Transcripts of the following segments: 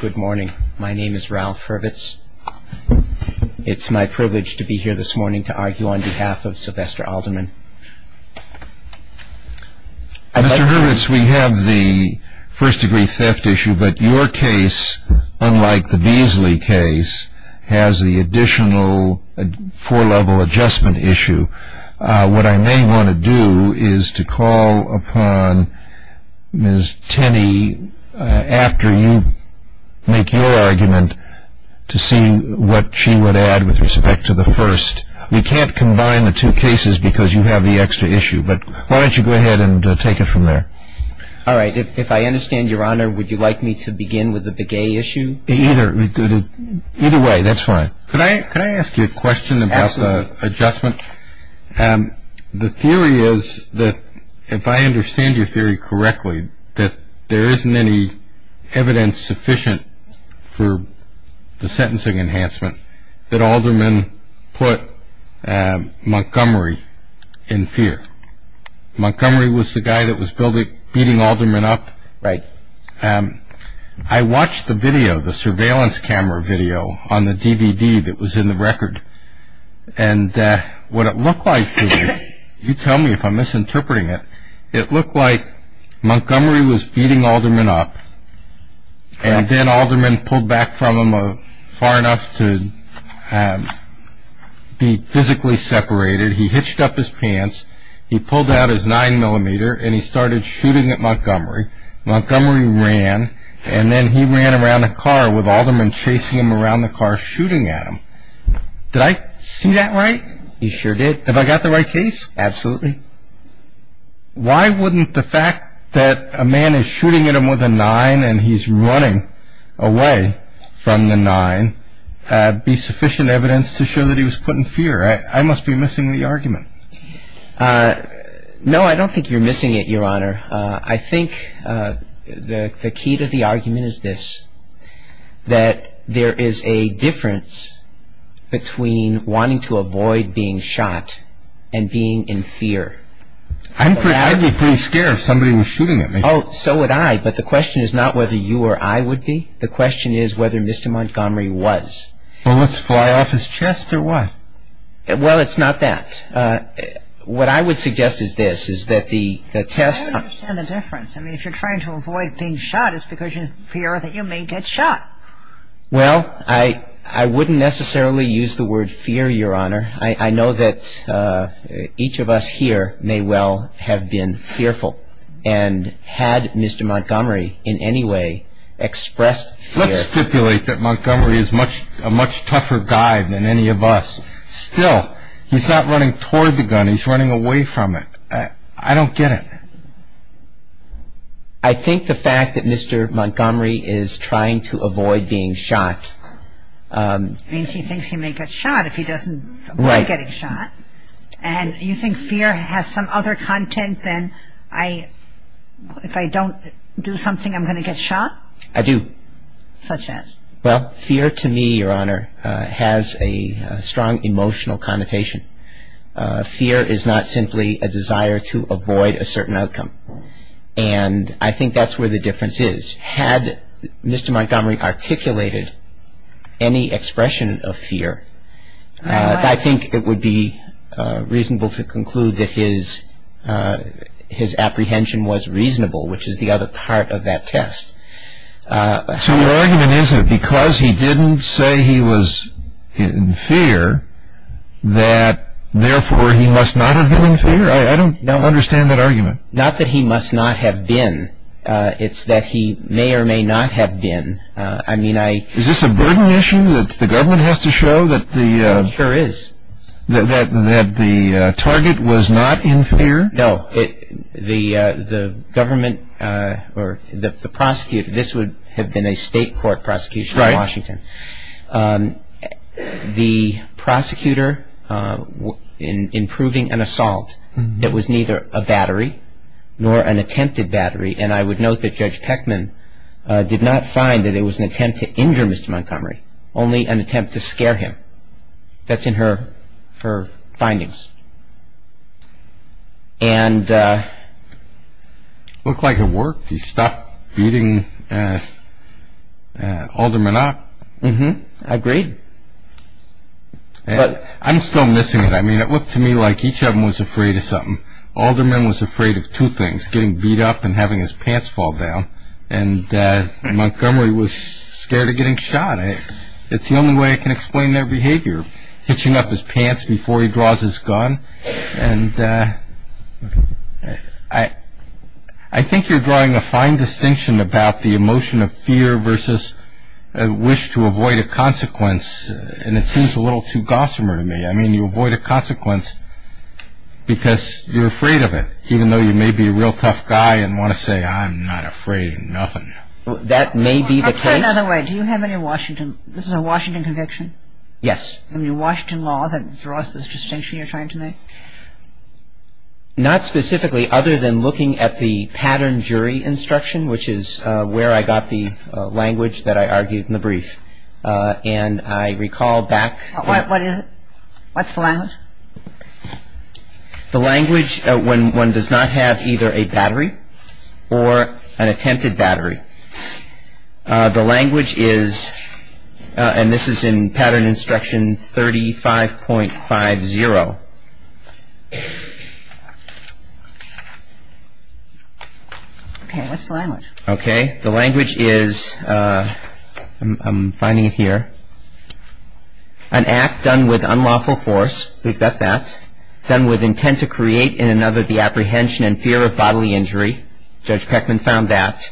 Good morning My name is Ralph Hurwitz. It's my privilege to be here this morning to argue on behalf of Sylvester Alderman. Mr. Hurwitz, we have the first degree theft issue, but your case, unlike the Beasley case, has the additional four-level adjustment issue. What I may want to do is to call upon Ms. Tenney, after you make your argument, to see what she would add with respect to the first. We can't combine the two cases because you have the extra issue, but why don't you go ahead and take it from there. All right. If I understand your honor, would you like me to begin with the Begay issue? Either way, that's fine. Could I ask you a question about the adjustment? The theory is that, if I understand your theory correctly, that there isn't any evidence sufficient for the sentencing enhancement that Alderman put Montgomery in fear. Montgomery was the guy that was beating Alderman up. Right. I watched the video, the surveillance camera video, on the DVD that was in the record, and what it looked like to me, you tell me if I'm misinterpreting it, it looked like Montgomery was beating Alderman up, and then Alderman pulled back from him far enough to be physically separated, he hitched up his pants, he pulled out his 9mm and he started shooting at Montgomery. Montgomery ran, and then he ran around the car with Alderman chasing him around the car shooting at him. Did I see that right? You sure did. Have I got the right case? Absolutely. Why wouldn't the fact that a man is shooting at him with a 9mm and he's running away from the 9mm be sufficient evidence to show that he was put in fear? I must be missing the argument. No, I don't think you're missing it, Your Honor. I think the key to the argument is this, that there is a difference between wanting to avoid being shot and being in fear. I'd be pretty scared if somebody was shooting at me. So would I, but the question is not whether you or I would be, the question is whether Mr. Montgomery was. Well, let's fly off his chest or what? Well, it's not that. What I would suggest is this, is that the test... I don't understand the difference. I mean, if you're trying to avoid being shot, it's because you fear that you may get shot. Well, I wouldn't necessarily use the word fear, Your Honor. I know that each of us here may well have been fearful, and had Mr. Montgomery in any way expressed fear... Still, he's not running toward the gun, he's running away from it. I don't get it. I think the fact that Mr. Montgomery is trying to avoid being shot... Means he thinks he may get shot if he doesn't avoid getting shot. And you think fear has some other content than, if I don't do something, I'm going to get shot? I do. Such as? Well, fear to me, Your Honor, has a strong emotional connotation. Fear is not simply a desire to avoid a certain outcome. And I think that's where the difference is. Had Mr. Montgomery articulated any expression of fear, I think it would be reasonable to conclude that his apprehension was reasonable, which is the other part of that test. So your argument is that because he didn't say he was in fear, that therefore he must not have been in fear? I don't understand that argument. Not that he must not have been. It's that he may or may not have been. I mean, I... Is this a burden issue that the government has to show that the target was not in fear? No. No. The government, or the prosecutor, this would have been a state court prosecution in Washington. The prosecutor in proving an assault that was neither a battery nor an attempted battery, and I would note that Judge Peckman did not find that it was an attempt to injure Mr. Montgomery, only an attempt to scare him. That's in her findings. And... It looked like it worked. He stopped beating Alderman up. Mm-hmm. Agreed. But... I'm still missing it. I mean, it looked to me like each of them was afraid of something. Alderman was afraid of two things, getting beat up and having his pants fall down, and Montgomery was scared of getting shot. It's the only way I can explain their behavior. You're hitching up his pants before he draws his gun, and I think you're drawing a fine distinction about the emotion of fear versus a wish to avoid a consequence, and it seems a little too gossamer to me. I mean, you avoid a consequence because you're afraid of it, even though you may be a real tough guy and want to say, I'm not afraid of nothing. That may be the case. Well, put it another way. Do you have any Washington... This is a Washington conviction? Yes. I mean, Washington law, that draws this distinction you're trying to make? Not specifically, other than looking at the pattern jury instruction, which is where I got the language that I argued in the brief, and I recall back... What is it? What's the language? The language when one does not have either a battery or an attempted battery. The language is, and this is in pattern instruction 35.50. Okay. What's the language? Okay. The language is, I'm finding it here, an act done with unlawful force, we've got that, done with intent to create in another the apprehension and fear of bodily injury. Judge Peckman found that.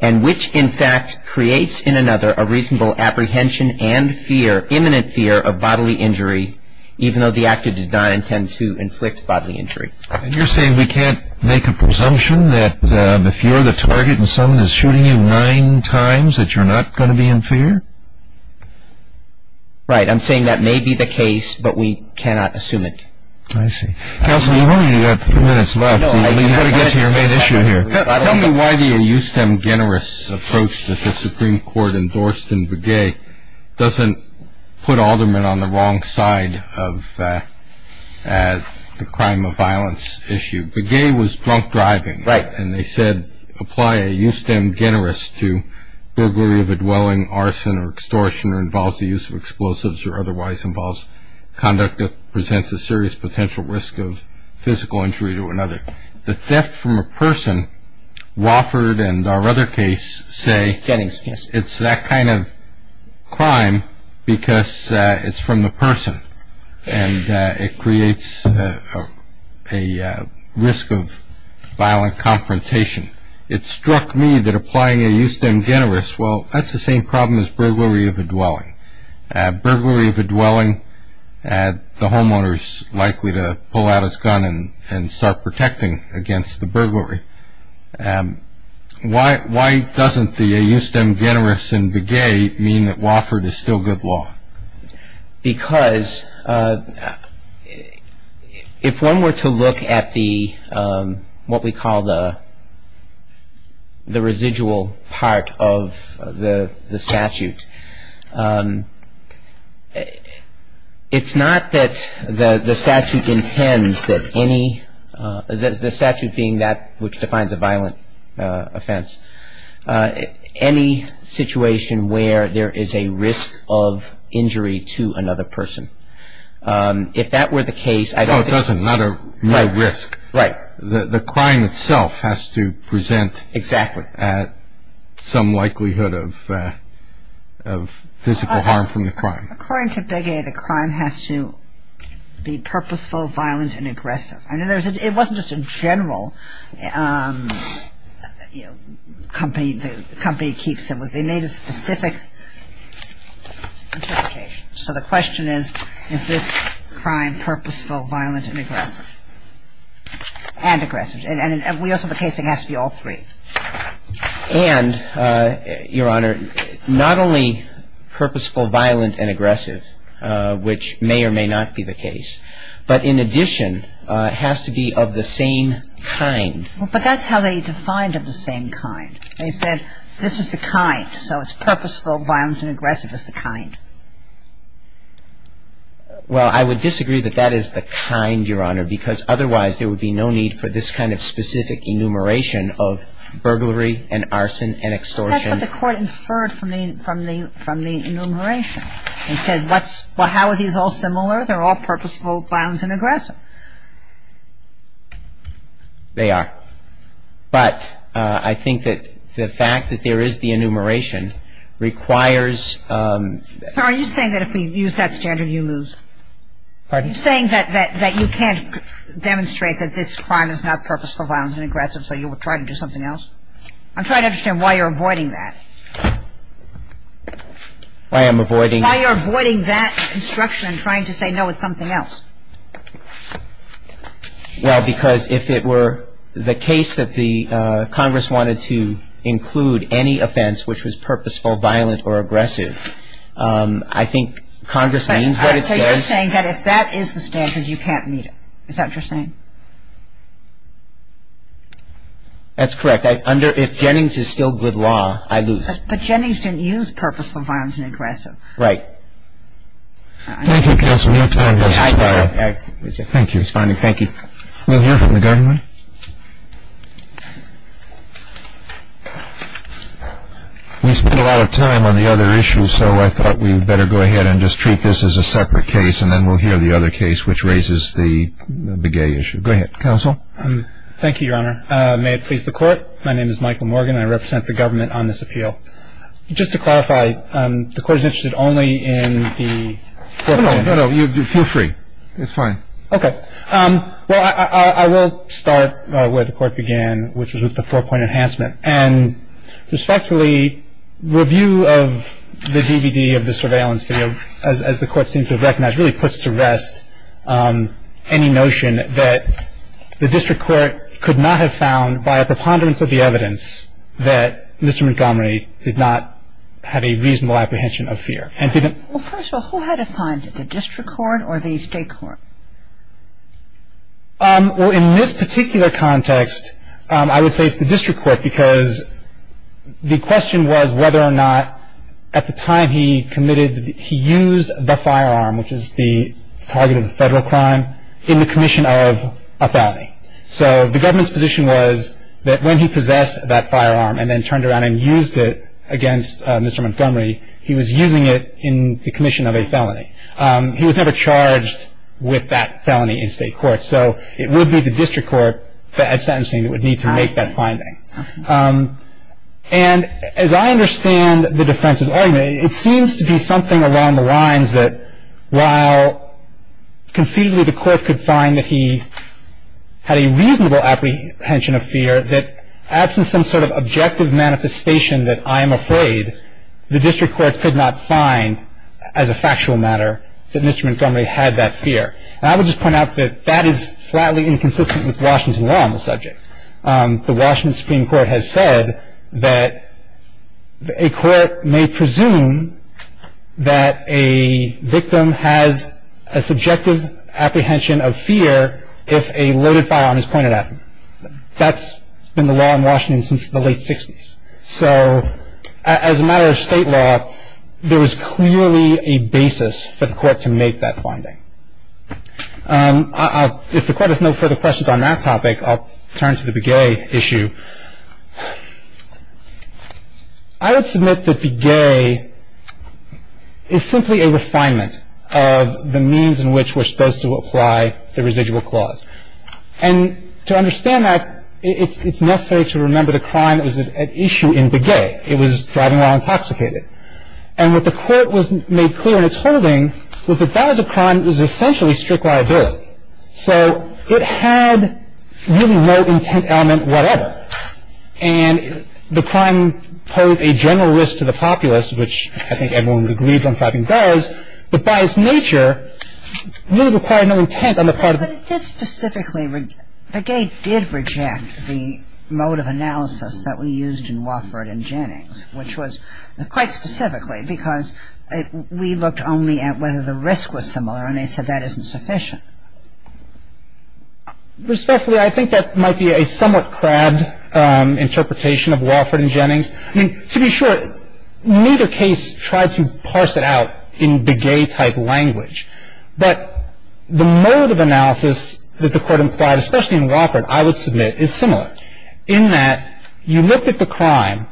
And which, in fact, creates in another a reasonable apprehension and fear, imminent fear of bodily injury, even though the actor did not intend to inflict bodily injury. And you're saying we can't make a presumption that if you're the target and someone is shooting you nine times that you're not going to be in fear? Right. I'm saying that may be the case, but we cannot assume it. I see. Counsel, you've only got three minutes left. You've got to get to your main issue here. Tell me why the eustem generis approach that the Supreme Court endorsed in Begay doesn't put Alderman on the wrong side of the crime of violence issue. Begay was drunk driving. Right. And they said apply a eustem generis to burglary of a dwelling, arson, or extortion, or involves the use of explosives, or otherwise involves conduct that presents a serious potential risk of physical injury to another. The theft from a person, Wofford and our other case say it's that kind of crime because it's from the person, and it creates a risk of violent confrontation. It struck me that applying a eustem generis, well, that's the same problem as burglary of a dwelling. Burglary of a dwelling, the homeowner is likely to pull out his gun and start protecting against the burglary. Why doesn't the eustem generis in Begay mean that Wofford is still good law? Because if one were to look at the, what we call the residual part of the statute, it's not that the statute intends that any, the statute being that which defines a violent offense. Any situation where there is a risk of injury to another person. If that were the case, I don't think. No, it doesn't. No risk. Right. The crime itself has to present. Exactly. At some likelihood of physical harm from the crime. According to Begay, the crime has to be purposeful, violent, and aggressive. I mean, it wasn't just a general, you know, company keeps it. They made a specific interpretation. So the question is, is this crime purposeful, violent, and aggressive? And aggressive. And we also have a case that has to be all three. And, Your Honor, not only purposeful, violent, and aggressive, which may or may not be the case, but in addition, it has to be of the same kind. But that's how they defined of the same kind. They said this is the kind. So it's purposeful, violent, and aggressive is the kind. Well, I would disagree that that is the kind, Your Honor, because otherwise there would be no need for this kind of specific enumeration of burglary and arson and extortion. That's what the Court inferred from the enumeration. And there's a reason why they said that. They said, well, how are these all similar? They're all purposeful, violent, and aggressive. They are. But I think that the fact that there is the enumeration requires ‑‑ Sir, are you saying that if we use that standard, you lose? Pardon? You're saying that you can't demonstrate that this crime is not purposeful, violent, and aggressive, so you would try to do something else? I'm trying to understand why you're avoiding that. Why I'm avoiding? Why you're avoiding that instruction and trying to say, no, it's something else. Well, because if it were the case that the Congress wanted to include any offense which was purposeful, violent, or aggressive, I think Congress means what it says. So you're saying that if that is the standard, you can't meet it. Is that what you're saying? That's correct. If Jennings is still good law, I lose. But Jennings didn't use purposeful, violent, and aggressive. Right. Thank you, counsel. We have time for one more. Thank you. Thank you. We'll hear from the government. We spent a lot of time on the other issue, so I thought we'd better go ahead and just treat this as a separate case, and then we'll hear the other case which raises the gay issue. Go ahead, counsel. Thank you, Your Honor. May it please the Court. My name is Michael Morgan. I represent the government on this appeal. Just to clarify, the Court is interested only in the four-point enhancement. No, no, no. Feel free. It's fine. Okay. Well, I will start where the Court began, which was with the four-point enhancement. And respectfully, review of the DVD of the surveillance video, as the Court seems to have recognized, really puts to rest any notion that the district court could not have found, by a preponderance of the evidence, that Mr. Montgomery did not have a reasonable apprehension of fear and didn't Well, first of all, who had to find it, the district court or the state court? Well, in this particular context, I would say it's the district court because the question was whether or not at the time he committed, he used the firearm, which is the target of the federal crime, in the commission of a felony. So the government's position was that when he possessed that firearm and then turned around and used it against Mr. Montgomery, he was using it in the commission of a felony. He was never charged with that felony in state court. So it would be the district court at sentencing that would need to make that finding. And as I understand the defense's argument, it seems to be something along the lines that, while conceivably the court could find that he had a reasonable apprehension of fear, that absent some sort of objective manifestation that I am afraid, the district court could not find, as a factual matter, that Mr. Montgomery had that fear. And I would just point out that that is flatly inconsistent with Washington law on the subject. The Washington Supreme Court has said that a court may presume that a victim has a subjective apprehension of fear if a loaded firearm is pointed at him. That's been the law in Washington since the late 60s. So as a matter of state law, there is clearly a basis for the court to make that finding. If the Court has no further questions on that topic, I'll turn to the Begay issue. I would submit that Begay is simply a refinement of the means in which we're supposed to apply the residual clause. And to understand that, it's necessary to remember the crime was at issue in Begay. It was driving while intoxicated. And what the Court was made clear in its holding was that that was a crime that was essentially strict liability. So it had really no intent element whatever. And the crime posed a general risk to the populace, which I think everyone agrees on fighting does, but by its nature, really required no intent on the part of the public. But did specifically, Begay did reject the mode of analysis that we used in Wofford and Jennings, which was quite specifically because we looked only at whether the risk was similar, and they said that isn't sufficient. Respectfully, I think that might be a somewhat crabbed interpretation of Wofford and Jennings. I mean, to be sure, neither case tried to parse it out in Begay-type language. But the mode of analysis that the Court implied, especially in Wofford, I would submit is similar, but in that you looked at the crime,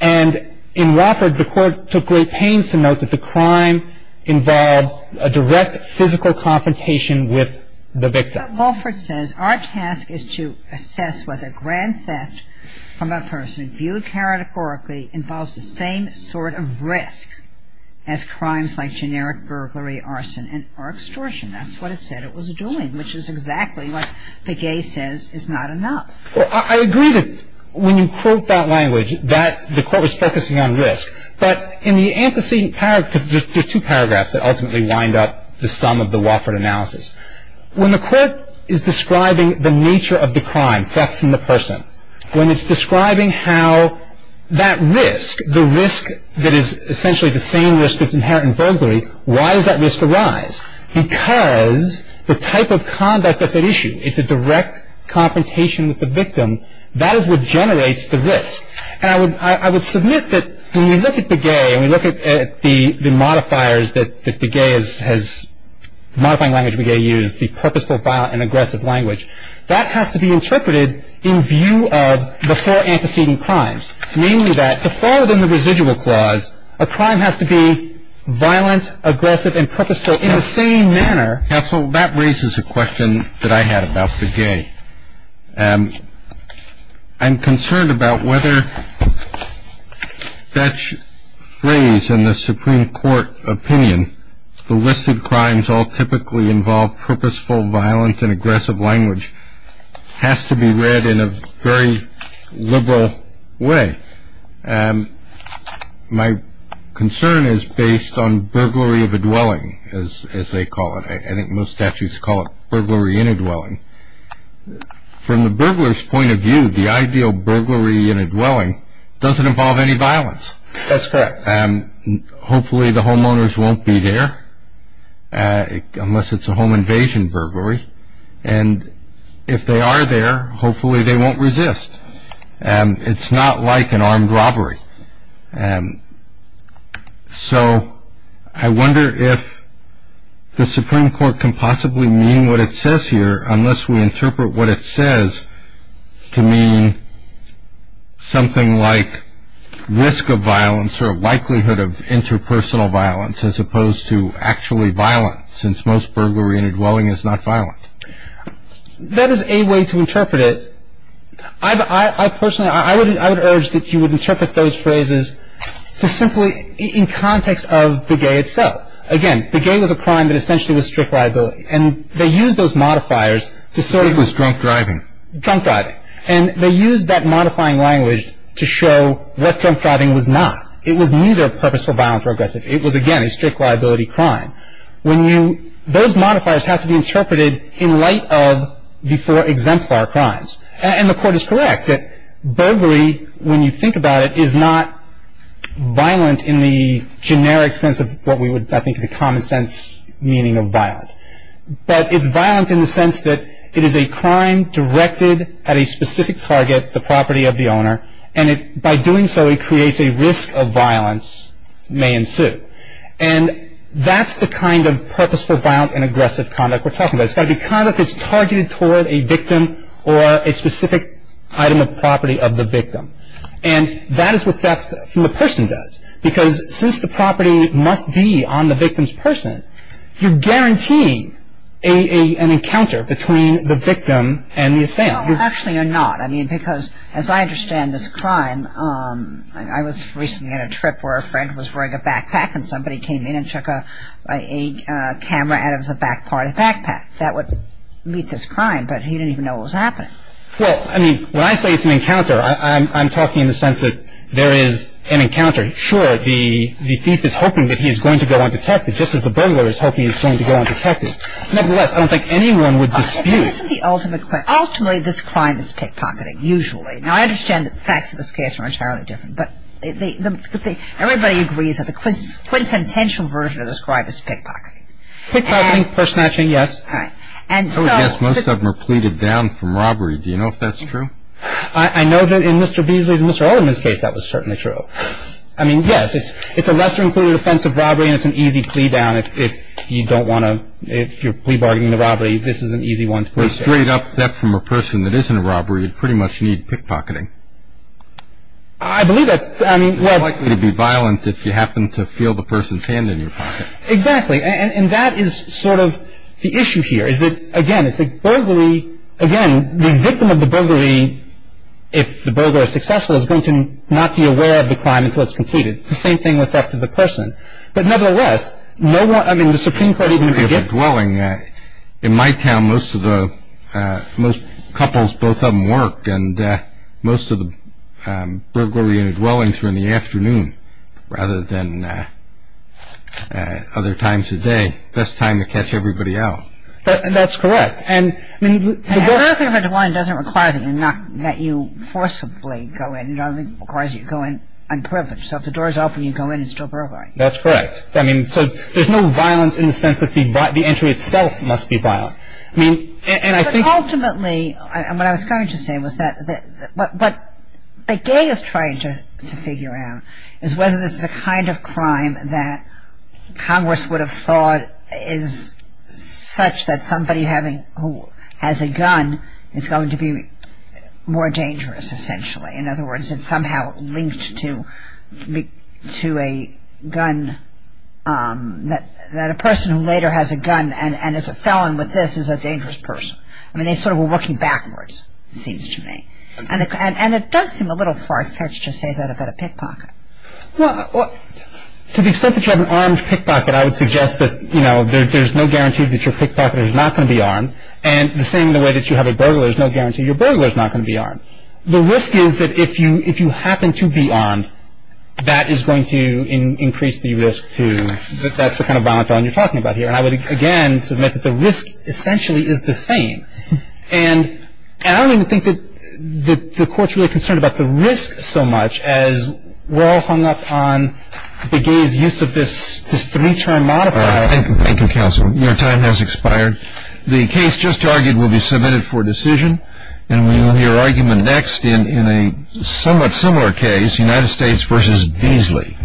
and in Wofford, the Court took great pains to note that the crime involved a direct physical confrontation with the victim. Wofford says our task is to assess whether grand theft from a person viewed categorically involves the same sort of risk as crimes like generic burglary, arson, or extortion. That's what it said it was doing, which is exactly what Begay says is not enough. Well, I agree that when you quote that language, that the Court was focusing on risk. But in the antecedent paragraph, because there's two paragraphs that ultimately wind up the sum of the Wofford analysis, when the Court is describing the nature of the crime, theft from the person, when it's describing how that risk, the risk that is essentially the same risk that's inherent in burglary, why does that risk arise? Because the type of conduct that's at issue, it's a direct confrontation with the victim. That is what generates the risk. And I would submit that when we look at Begay and we look at the modifiers that Begay has, the modifying language Begay used, the purposeful, violent, and aggressive language, that has to be interpreted in view of the four antecedent crimes, namely that to fall within the residual clause, a crime has to be violent, aggressive, and purposeful in the same manner. That raises a question that I had about Begay. I'm concerned about whether that phrase in the Supreme Court opinion, the listed crimes all typically involve purposeful, violent, and aggressive language, has to be read in a very liberal way. My concern is based on burglary of a dwelling, as they call it. I think most statutes call it burglary in a dwelling. From the burglar's point of view, the ideal burglary in a dwelling doesn't involve any violence. That's correct. Hopefully the homeowners won't be there unless it's a home invasion burglary. And if they are there, hopefully they won't resist. It's not like an armed robbery. So I wonder if the Supreme Court can possibly mean what it says here, unless we interpret what it says to mean something like risk of violence or likelihood of interpersonal violence as opposed to actually violence, since most burglary in a dwelling is not violent. That is a way to interpret it. I personally would urge that you would interpret those phrases simply in context of Begay itself. Again, Begay was a crime that essentially was strict liability. And they used those modifiers to sort of... It was drunk driving. Drunk driving. And they used that modifying language to show what drunk driving was not. It was neither purposeful violence or aggressive. It was, again, a strict liability crime. When you... Those modifiers have to be interpreted in light of before exemplar crimes. And the Court is correct that burglary, when you think about it, is not violent in the generic sense of what we would, I think, the common sense meaning of violent. But it's violent in the sense that it is a crime directed at a specific target, the property of the owner. And by doing so, it creates a risk of violence may ensue. And that's the kind of purposeful violence and aggressive conduct we're talking about. It's got to be conduct that's targeted toward a victim or a specific item of property of the victim. And that is what theft from the person does. Because since the property must be on the victim's person, you're guaranteeing an encounter between the victim and the assailant. Actually, you're not. I mean, because as I understand this crime, I was recently on a trip where a friend was wearing a backpack and somebody came in and took a camera out of the back part of the backpack. That would meet this crime, but he didn't even know what was happening. Well, I mean, when I say it's an encounter, I'm talking in the sense that there is an encounter. Sure, the thief is hoping that he's going to go undetected, just as the burglar is hoping he's going to go undetected. Nevertheless, I don't think anyone would dispute. Ultimately, this crime is pickpocketing, usually. Now, I understand that the facts of this case are entirely different, but everybody agrees that the quintessential version of this crime is pickpocketing. Pickpocketing or snatching, yes. I would guess most of them are pleaded down from robbery. Do you know if that's true? I know that in Mr. Beasley's and Mr. Olderman's case, that was certainly true. I mean, yes, it's a lesser-included offense of robbery, and it's an easy plea down. If you don't want to – if you're plea bargaining the robbery, this is an easy one to please. Well, straight up theft from a person that isn't a robbery would pretty much need pickpocketing. I believe that's – I mean – It's likely to be violent if you happen to feel the person's hand in your pocket. Exactly, and that is sort of the issue here, is that, again, it's a burglary – again, the victim of the burglary, if the burglar is successful, is going to not be aware of the crime until it's completed. It's the same thing with theft of the person. But nevertheless, no one – I mean, the Supreme Court even could give – Burglary of a dwelling. In my town, most of the – most couples, both of them work, and most of the burglary and dwellings are in the afternoon rather than other times of day. Best time to catch everybody out. That's correct. A burglary of a dwelling doesn't require that you forcibly go in. It only requires that you go in unprivileged. So if the door is open, you go in and still burglary. That's correct. I mean, so there's no violence in the sense that the entry itself must be violent. I mean, and I think – But ultimately, what I was trying to say was that – what Begay is trying to figure out is whether this is a kind of crime that Congress would have thought is such that somebody having – who has a gun is going to be more dangerous, essentially. In other words, it's somehow linked to a gun – that a person who later has a gun and is a felon with this is a dangerous person. I mean, they sort of were looking backwards, it seems to me. And it does seem a little far-fetched to say that about a pickpocket. Well, to the extent that you have an armed pickpocket, I would suggest that there's no guarantee that your pickpocket is not going to be armed. And the same in the way that you have a burglar, there's no guarantee your burglar is not going to be armed. The risk is that if you happen to be armed, that is going to increase the risk to – that's the kind of violent felon you're talking about here. And I would, again, submit that the risk essentially is the same. And I don't even think that the Court's really concerned about the risk so much as we're all hung up on Begay's use of this three-term modifier. Thank you, counsel. Your time has expired. The case just argued will be submitted for decision. And we will hear argument next in a somewhat similar case, United States v. Beasley.